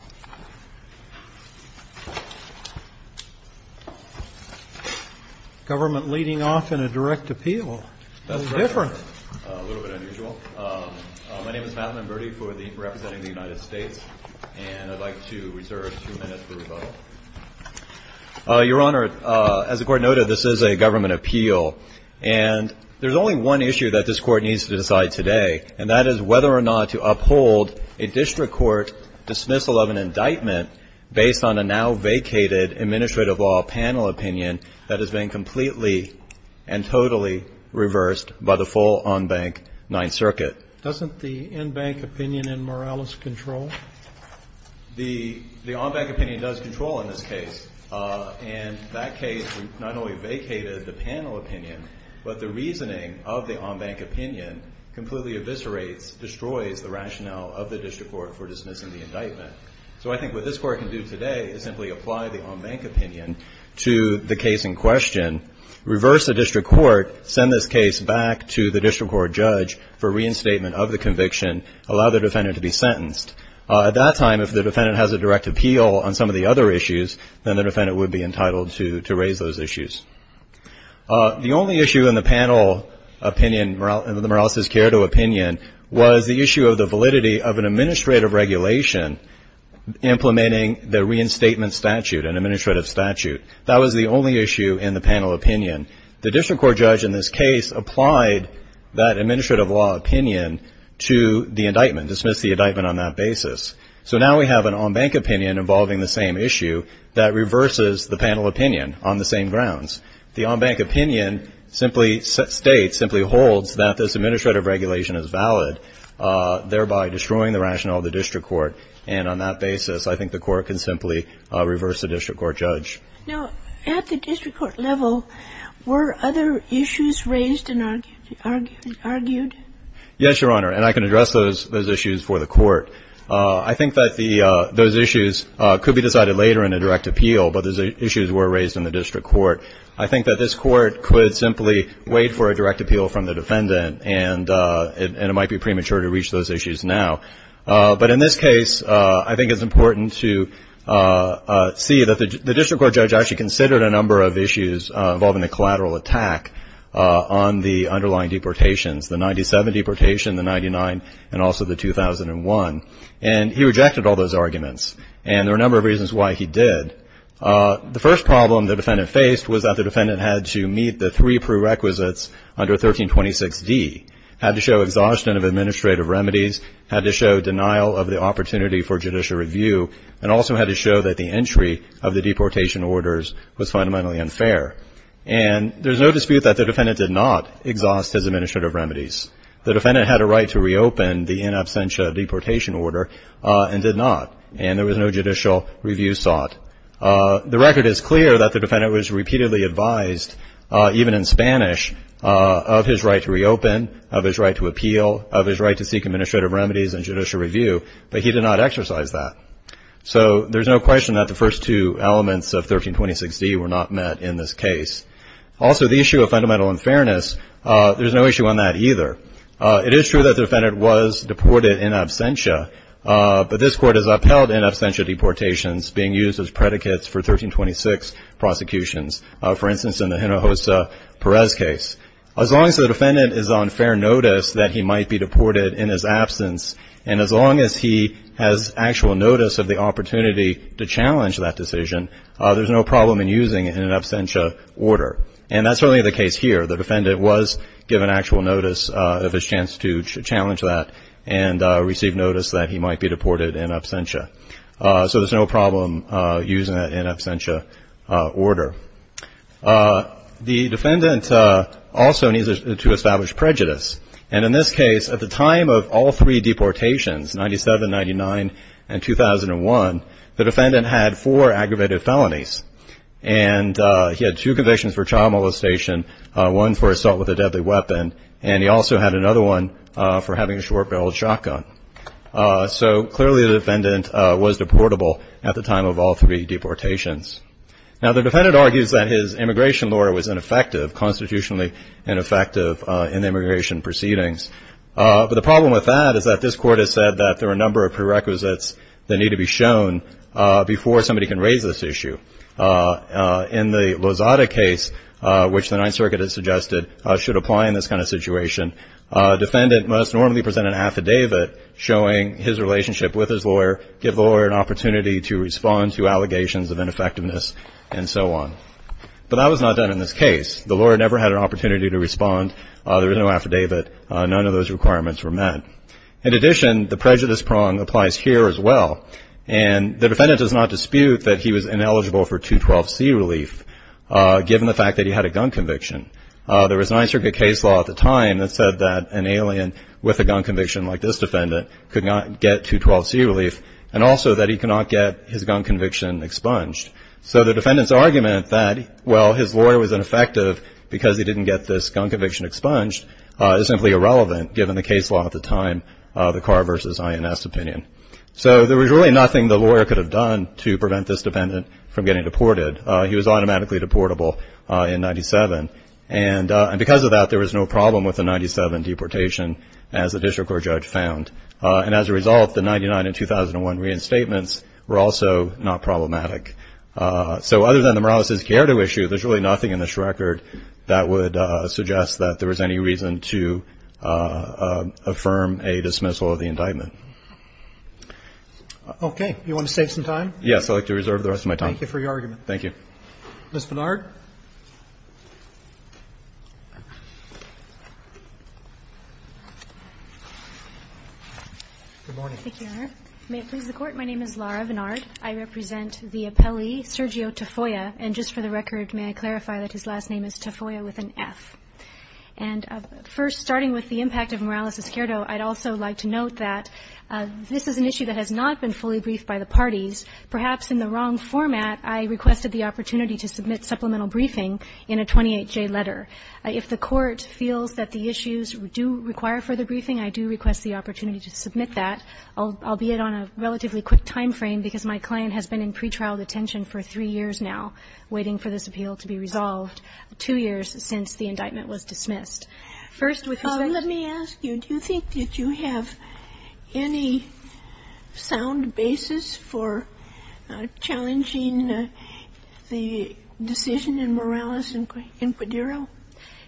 Mathamon-Berdy Your Honor, as the Court noted, this is a government appeal, and there is only one issue that this Court needs to decide today, and that is whether or not to uphold a district court dismissal of an indictment based on a now-vacated administrative law panel opinion that has been completely and totally reversed by the full en banc Ninth Circuit. Doesn't the en banc opinion in Morales control? The en banc opinion does control in this case, and that case not only vacated the panel opinion, but the reasoning of the en banc opinion completely eviscerates, destroys the rationale of the district court for dismissing the indictment. So I think what this Court can do today is simply apply the en banc opinion to the case in question, reverse the district court, send this case back to the district court judge for reinstatement of the conviction, allow the defendant to be sentenced. At that time, if the defendant has a direct appeal on some of the other issues, then the defendant would be entitled to raise those issues. The only issue in the panel opinion, in the Morales-Cierto opinion, was the issue of the administrative regulation implementing the reinstatement statute, an administrative statute. That was the only issue in the panel opinion. The district court judge in this case applied that administrative law opinion to the indictment, dismissed the indictment on that basis. So now we have an en banc opinion involving the same issue that reverses the panel opinion on the same grounds. The en banc opinion simply states, simply holds, that this administrative regulation is valid, thereby destroying the rationale of the district court. And on that basis, I think the court can simply reverse the district court judge. Now, at the district court level, were other issues raised and argued? Yes, Your Honor, and I can address those issues for the court. I think that those issues could be decided later in a direct appeal, but those issues were raised in the district court. I think that this court could simply wait for a direct appeal from the defendant, and it might be premature to reach those issues now. But in this case, I think it's important to see that the district court judge actually considered a number of issues involving the collateral attack on the underlying deportations, the 97 deportation, the 99, and also the 2001. And he rejected all those arguments, and there were a number of reasons why he did. The first problem the defendant faced was that the defendant had to meet the three prerequisites under 1326D, had to show exhaustion of administrative remedies, had to show denial of the opportunity for judicial review, and also had to show that the entry of the deportation orders was fundamentally unfair. And there's no dispute that the defendant did not exhaust his administrative remedies. The defendant had a right to reopen the in absentia deportation order and did not, and there was no judicial review sought. The record is clear that the defendant was repeatedly advised, even in Spanish, of his right to reopen, of his right to appeal, of his right to seek administrative remedies and judicial review, but he did not exercise that. So there's no question that the first two elements of 1326D were not met in this case. Also, the issue of fundamental unfairness, there's no issue on that either. It is true that the defendant was deported in absentia, but this Court has upheld in absentia deportations being used as predicates for 1326 prosecutions. For instance, in the Hinojosa-Perez case. As long as the defendant is on fair notice that he might be deported in his absence, and as long as he has actual notice of the opportunity to challenge that decision, there's no problem in using it in an absentia order. And that's certainly the case here. The defendant was given actual notice of his chance to challenge that and received notice that he might be deported in absentia. So there's no problem using that in absentia order. The defendant also needs to establish prejudice. And in this case, at the time of all three deportations, 97, 99, and 2001, the defendant had four aggravated felonies. And he had two convictions for child molestation, one for assault with a deadly weapon, and he also had another one for having a short-barreled shotgun. So clearly the defendant was deportable at the time of all three deportations. Now the defendant argues that his immigration lawyer was ineffective, constitutionally ineffective in the immigration proceedings. But the problem with that is that this Court has said that there are a number of prerequisites that need to be shown before somebody can raise this issue. In the Lozada case, which the Ninth Circuit has suggested should apply in this kind of situation, a defendant must normally present an affidavit showing his relationship with his lawyer, give the lawyer an opportunity to respond to allegations of ineffectiveness, and so on. But that was not done in this case. The lawyer never had an opportunity to respond. There was no affidavit. None of those requirements were met. In addition, the prejudice prong applies here as well. And the defendant does not dispute that he was ineligible for 212C relief, given the fact that he had a gun conviction. There was a Ninth Circuit case law at the time that said that an alien with a gun conviction like this defendant could not get 212C relief, and also that he could not get his gun conviction expunged. So the defendant's argument that, well, his lawyer was ineffective because he didn't get this gun conviction expunged is simply irrelevant, given the case law at the time, the Carr v. INS opinion. So there was really nothing the lawyer could have done to prevent this defendant from getting deported. He was automatically deportable in 97. And because of that, there was no problem with the 97 deportation, as the district court judge found. And as a result, the 99 and 2001 reinstatements were also not problematic. So other than the Morales v. Chiarito issue, there's really nothing in this record that would suggest that there was any reason to be concerned. Okay. You want to save some time? Yes. I'd like to reserve the rest of my time. Thank you for your argument. Thank you. Ms. Vennard. Good morning. Thank you, Your Honor. May it please the Court, my name is Laura Vennard. I represent the appellee, Sergio Tafoya, and just for the record, may I clarify that his last name is Tafoya with an F. And first, starting with the impact of Morales v. Chiarito, I'd also like to note that this is an issue that has not been fully briefed by the parties. Perhaps in the wrong format, I requested the opportunity to submit supplemental briefing in a 28-J letter. If the Court feels that the issues do require further briefing, I do request the opportunity to submit that, albeit on a relatively quick timeframe, because my client has been in pretrial detention for three years now waiting for this appeal to be resolved, two years since the indictment was dismissed. First, with respect to... Let me ask you, do you think that you have any sound basis for challenging the decision in Morales in Quadero?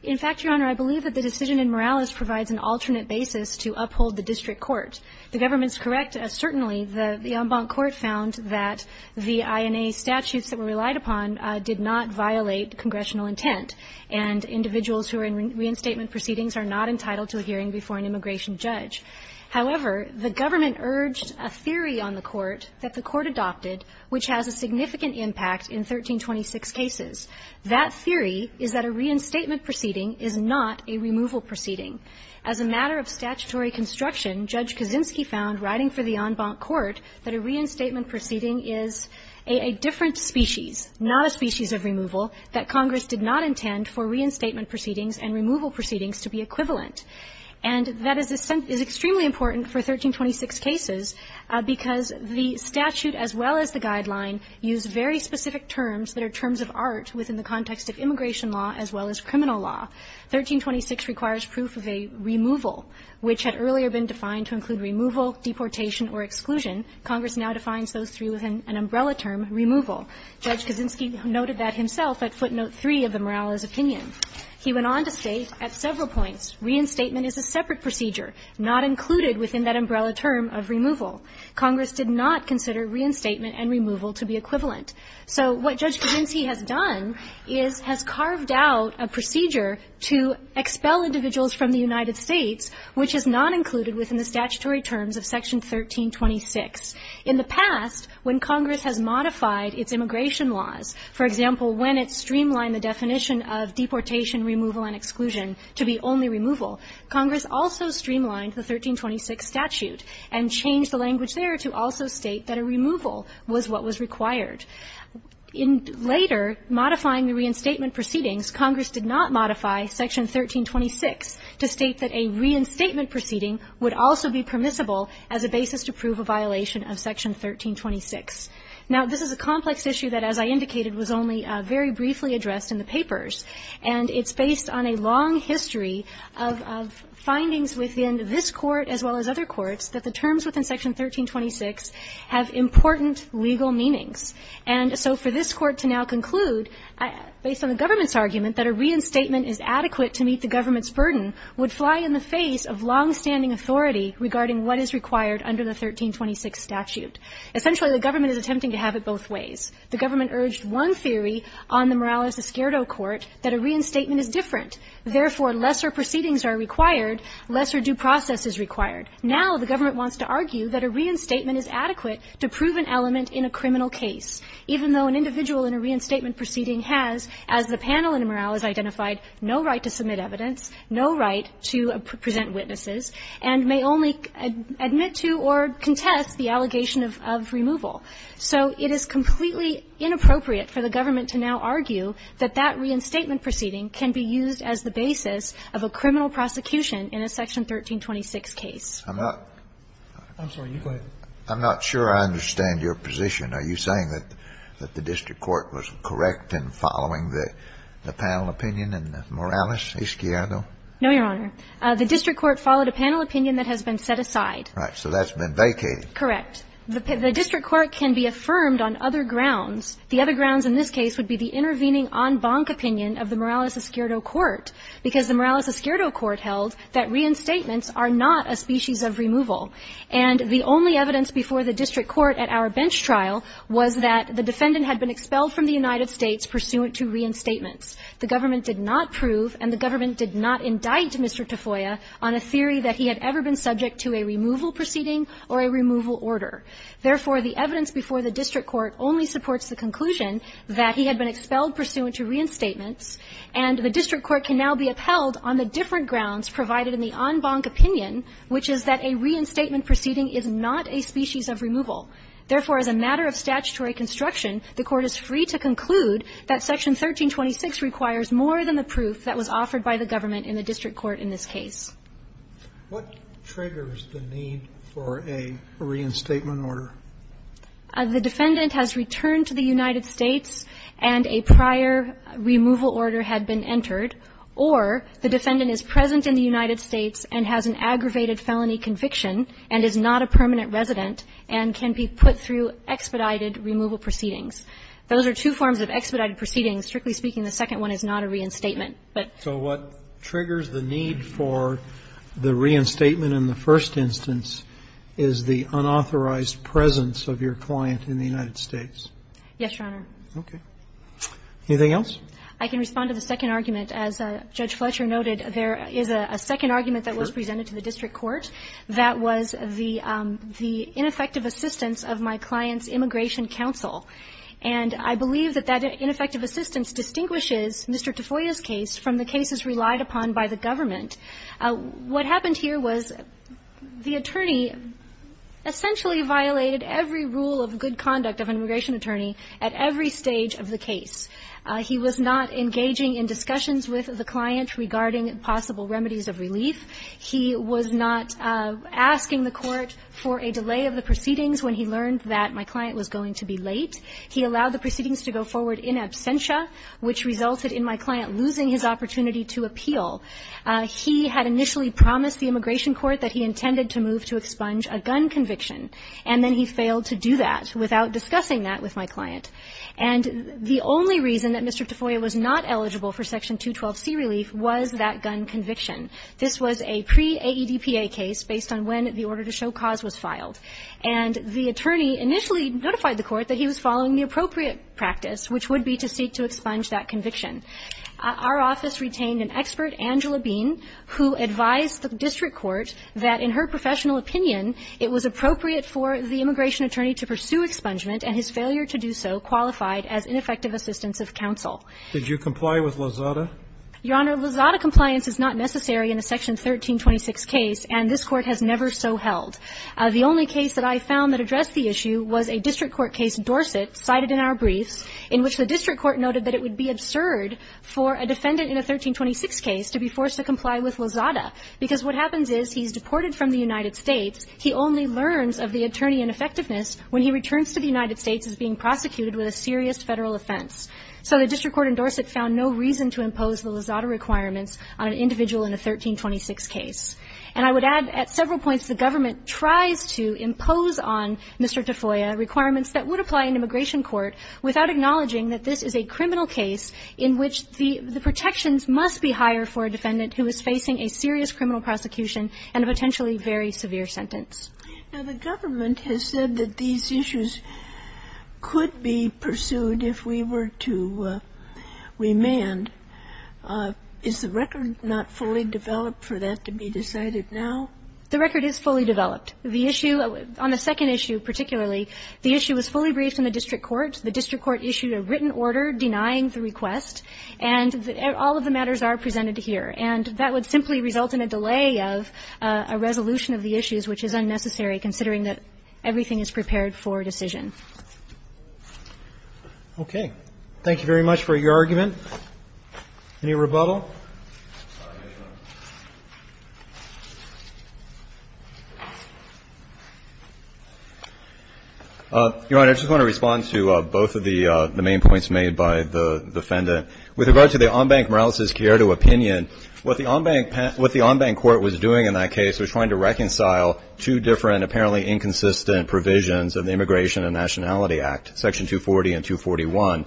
In fact, Your Honor, I believe that the decision in Morales provides an alternate basis to uphold the district court. The government's correct, certainly. The en banc court found that the INA statutes that were relied upon did not violate congressional intent, and individuals who are in reinstatement proceedings are not entitled to a hearing before an immigration judge. However, the government urged a theory on the Court that the Court adopted, which has a significant impact in 1326 cases. That theory is that a reinstatement proceeding is not a removal proceeding. As a matter of statutory construction, Judge Kaczynski found, writing for the en banc court, that a reinstatement proceeding is a different species, not a species of immigration law, and that Congress did not intend for reinstatement proceedings and removal proceedings to be equivalent. And that is extremely important for 1326 cases because the statute, as well as the guideline, use very specific terms that are terms of art within the context of immigration law as well as criminal law. 1326 requires proof of a removal, which had earlier been defined to include removal, deportation, or exclusion. Congress now defines those three with an umbrella term, removal. Judge Kaczynski noted that himself at footnote 3 of the Morales opinion. He went on to state at several points, reinstatement is a separate procedure, not included within that umbrella term of removal. Congress did not consider reinstatement and removal to be equivalent. So what Judge Kaczynski has done is has carved out a procedure to expel individuals from the United States which is not included within the statutory terms of Section 1326. In the past, when Congress has modified its immigration laws, for example, when it streamlined the definition of deportation, removal, and exclusion to be only removal, Congress also streamlined the 1326 statute and changed the language there to also state that a removal was what was required. Later, modifying the reinstatement proceedings, Congress did not modify Section 1326 to state that a reinstatement proceeding would also be permissible as a basis to prove a violation of Section 1326. Now, this is a complex issue that, as I indicated, was only very briefly addressed in the papers, and it's based on a long history of findings within this Court as well as other courts that the terms within Section 1326 have important legal meanings. And so for this Court to now conclude, based on the government's argument that a reinstatement is adequate to meet the government's burden, would fly in the face of longstanding authority regarding what is required under the 1326 statute. Essentially, the government is attempting to have it both ways. The government urged one theory on the Morales-Escuerdo Court, that a reinstatement is different. Therefore, lesser proceedings are required, lesser due process is required. Now, the government wants to argue that a reinstatement is adequate to prove an element in a criminal case, even though an individual in a reinstatement proceeding has, as the Court has argued, no right to submit evidence, no right to present witnesses, and may only admit to or contest the allegation of removal. So it is completely inappropriate for the government to now argue that that reinstatement proceeding can be used as the basis of a criminal prosecution in a Section 1326 case. I'm not sure I understand your position. Are you saying that the district court was correct in following the panel opinion in the Morales-Escuerdo? No, Your Honor. The district court followed a panel opinion that has been set aside. Right. So that's been vacated. Correct. The district court can be affirmed on other grounds. The other grounds in this case would be the intervening en banc opinion of the Morales-Escuerdo Court, because the Morales-Escuerdo Court held that reinstatements are not a species of removal. And the only evidence before the district court at our bench trial was that the defendant had been expelled from the United States pursuant to reinstatements. The government did not prove and the government did not indict Mr. Tafoya on a theory that he had ever been subject to a removal proceeding or a removal order. Therefore, the evidence before the district court only supports the conclusion that he had been expelled pursuant to reinstatements, and the district court can now be upheld on the different grounds provided in the en banc opinion, which is that a reinstatement proceeding is not a species of removal. Therefore, as a matter of statutory construction, the Court is free to conclude that Section 1326 requires more than the proof that was offered by the government in the district court in this case. What triggers the need for a reinstatement order? The defendant has returned to the United States and a prior removal order had been entered, or the defendant is present in the United States and has an aggravated felony conviction and is not a permanent resident and can be put through expedited removal proceedings. Those are two forms of expedited proceedings. Strictly speaking, the second one is not a reinstatement. But so what triggers the need for the reinstatement in the first instance is the unauthorized presence of your client in the United States. Yes, Your Honor. Okay. Anything else? I can respond to the second argument. As Judge Fletcher noted, there is a second argument that was presented to the district court. That was the ineffective assistance of my client's immigration counsel. And I believe that that ineffective assistance distinguishes Mr. Tafoya's case from the cases relied upon by the government. What happened here was the attorney essentially violated every rule of good conduct of an immigration attorney at every stage of the case. He was not engaging in discussions with the client regarding possible remedies of relief. He was not asking the court for a delay of the proceedings when he learned that my client was going to be late. He allowed the proceedings to go forward in absentia, which resulted in my client losing his opportunity to appeal. He had initially promised the immigration court that he intended to move to expunge a gun conviction, and then he failed to do that without discussing that with my client. And the only reason that Mr. Tafoya was not eligible for Section 212C relief was that gun conviction. This was a pre-AEDPA case based on when the order to show cause was filed. And the attorney initially notified the court that he was following the appropriate practice, which would be to seek to expunge that conviction. Our office retained an expert, Angela Bean, who advised the district court that in her professional opinion it was appropriate for the immigration attorney to pursue expungement and his failure to do so qualified as ineffective assistance of counsel. Did you comply with Lozada? Your Honor, Lozada compliance is not necessary in a Section 1326 case, and this court has never so held. The only case that I found that addressed the issue was a district court case, Dorset, cited in our briefs, in which the district court noted that it would be absurd for a defendant in a 1326 case to be forced to comply with Lozada, because what happens is he's deported from the United States. He only learns of the attorney ineffectiveness when he returns to the United States as being prosecuted with a serious Federal offense. So the district court in Dorset found no reason to impose the Lozada requirements on an individual in a 1326 case. And I would add at several points the government tries to impose on Mr. Tafoya requirements that would apply in immigration court without acknowledging that this is a criminal case in which the protections must be higher for a defendant who is facing a serious criminal prosecution and a potentially very severe sentence. Now, the government has said that these issues could be pursued if we were to remand. Is the record not fully developed for that to be decided now? The record is fully developed. The issue on the second issue particularly, the issue was fully briefed in the district court. The district court issued a written order denying the request, and all of the matters are presented here. And that would simply result in a delay of a resolution of the issues, which is unnecessary considering that everything is prepared for a decision. Roberts. Thank you very much for your argument. Any rebuttal? Your Honor, I just want to respond to both of the main points made by the defendant. With regard to the on-bank Morales-Chiarotto opinion, what the on-bank court was doing in that case was trying to reconcile two different, apparently inconsistent provisions of the Immigration and Nationality Act, Section 240 and 241.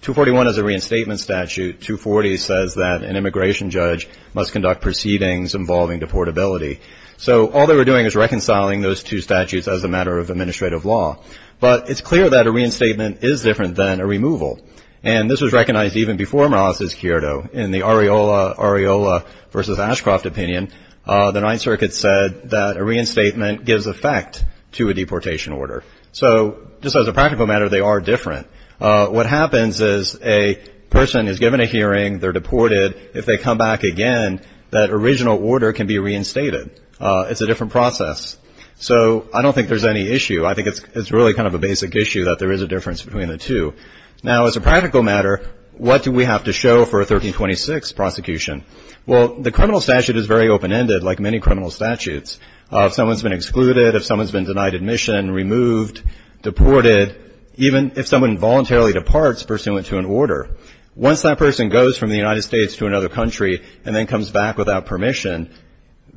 241 is a reinstatement statute. 240 says that an immigration judge must conduct proceedings involving deportability. So all they were doing was reconciling those two statutes as a matter of administrative law. But it's clear that a reinstatement is different than a removal. And this was recognized even before Morales-Chiarotto in the Areola versus Ashcroft opinion. The Ninth Circuit said that a reinstatement gives effect to a deportation order. So just as a practical matter, they are different. What happens is a person is given a hearing, they're deported. If they come back again, that original order can be reinstated. It's a different process. So I don't think there's any issue. I think it's really kind of a basic issue that there is a difference between the two. Now, as a practical matter, what do we have to show for a 1326 prosecution? Well, the criminal statute is very open-ended, like many criminal statutes. If someone's been excluded, if someone's been denied admission, removed, deported, even if someone voluntarily departs pursuant to an order, once that person goes from the United States to another country and then comes back without permission,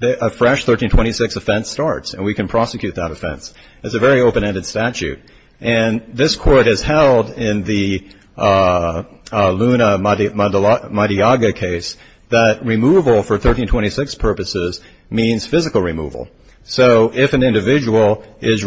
a fresh 1326 offense starts, and we can prosecute that offense. It's a very open-ended statute. And this court has held in the Luna Madiaga case that removal for 1326 purposes means physical removal. So if an individual is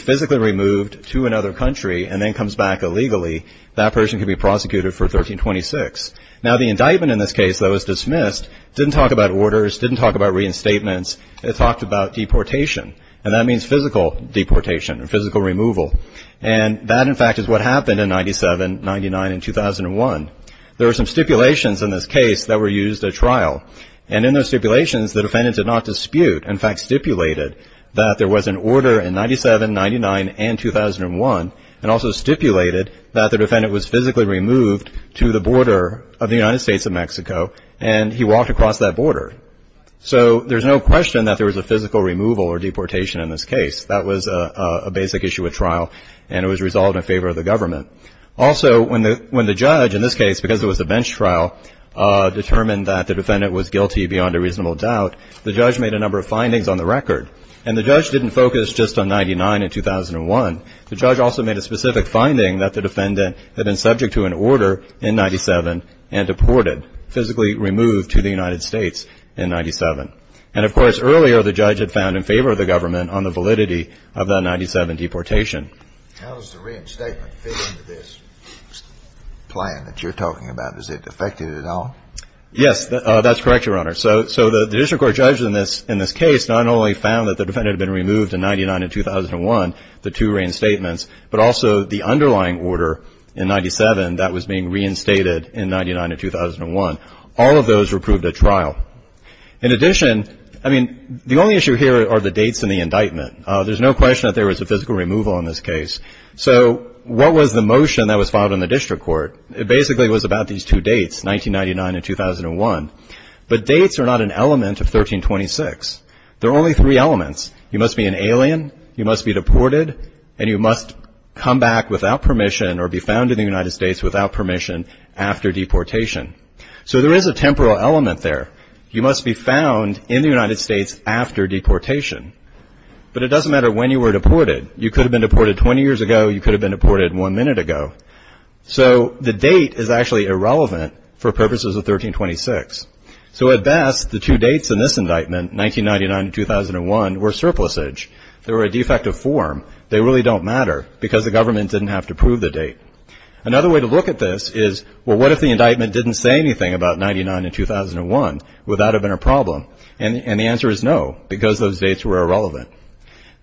physically removed to another country and then comes back illegally, that person can be prosecuted for 1326. Now, the indictment in this case, though, is dismissed. It didn't talk about orders. It didn't talk about reinstatements. It talked about deportation. And that means physical deportation, physical removal. And that, in fact, is what happened in 97, 99, and 2001. There were some stipulations in this case that were used at trial. And in those stipulations, the defendant did not dispute, in fact, stipulated, that there was an order in 97, 99, and 2001, and also stipulated that the defendant was physically removed to the border of the United States of Mexico and he walked across that border. So there's no question that there was a physical removal or deportation in this case. That was a basic issue at trial. And it was resolved in favor of the government. Also, when the judge, in this case, because it was a bench trial, determined that the defendant was guilty beyond a reasonable doubt, the judge made a number of findings on the record. And the judge didn't focus just on 99 and 2001. The judge also made a specific finding that the defendant had been subject to an order in 97 and deported, physically removed to the United States. And, of course, earlier the judge had found in favor of the government on the validity of that 97 deportation. How does the reinstatement fit into this plan that you're talking about? Is it affected at all? Yes, that's correct, Your Honor. So the district court judge in this case not only found that the defendant had been removed in 99 and 2001, the two reinstatements, but also the underlying order in 97 that was being reinstated in 99 and 2001. All of those were proved at trial. In addition, I mean, the only issue here are the dates in the indictment. There's no question that there was a physical removal in this case. So what was the motion that was filed in the district court? It basically was about these two dates, 1999 and 2001. But dates are not an element of 1326. There are only three elements. You must be an alien, you must be deported, and you must come back without permission or be found in the United States without permission after deportation. So there is a temporal element there. You must be found in the United States after deportation. But it doesn't matter when you were deported. You could have been deported 20 years ago. You could have been deported one minute ago. So the date is actually irrelevant for purposes of 1326. So at best, the two dates in this indictment, 1999 and 2001, were surplusage. They were a defective form. They really don't matter because the government didn't have to prove the date. Another way to look at this is, well, what if the indictment didn't say anything about 1999 and 2001? Would that have been a problem? And the answer is no because those dates were irrelevant.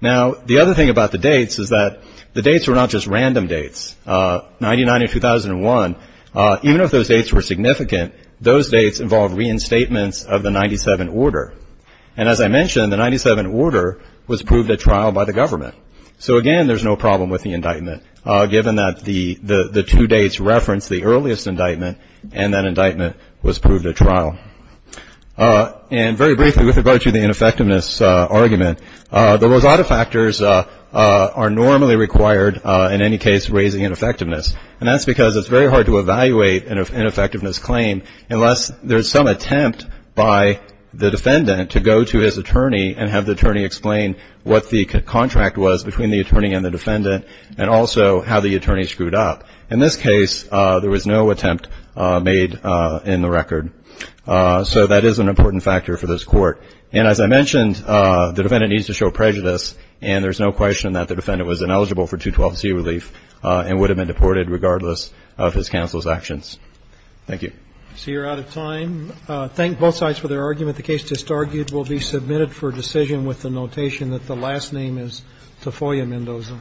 Now, the other thing about the dates is that the dates were not just random dates. 1999 and 2001, even if those dates were significant, those dates involved reinstatements of the 97 Order. And as I mentioned, the 97 Order was proved at trial by the government. So again, there's no problem with the indictment given that the two dates reference the earliest indictment and that indictment was proved at trial. And very briefly, with regard to the ineffectiveness argument, the Rosado factors are normally required in any case raising ineffectiveness. And that's because it's very hard to evaluate an ineffectiveness claim unless there's some attempt by the defendant to go to his attorney and have the attorney explain what the contract was between the attorney and the defendant and also how the attorney screwed up. In this case, there was no attempt made in the record. So that is an important factor for this Court. And as I mentioned, the defendant needs to show prejudice and there's no question that the defendant was ineligible for 212C relief and would have been deported regardless of his counsel's actions. Thank you. So you're out of time. Thank both sides for their argument. The case just argued will be submitted for decision with the notation that the last name is Tafoya Mendoza.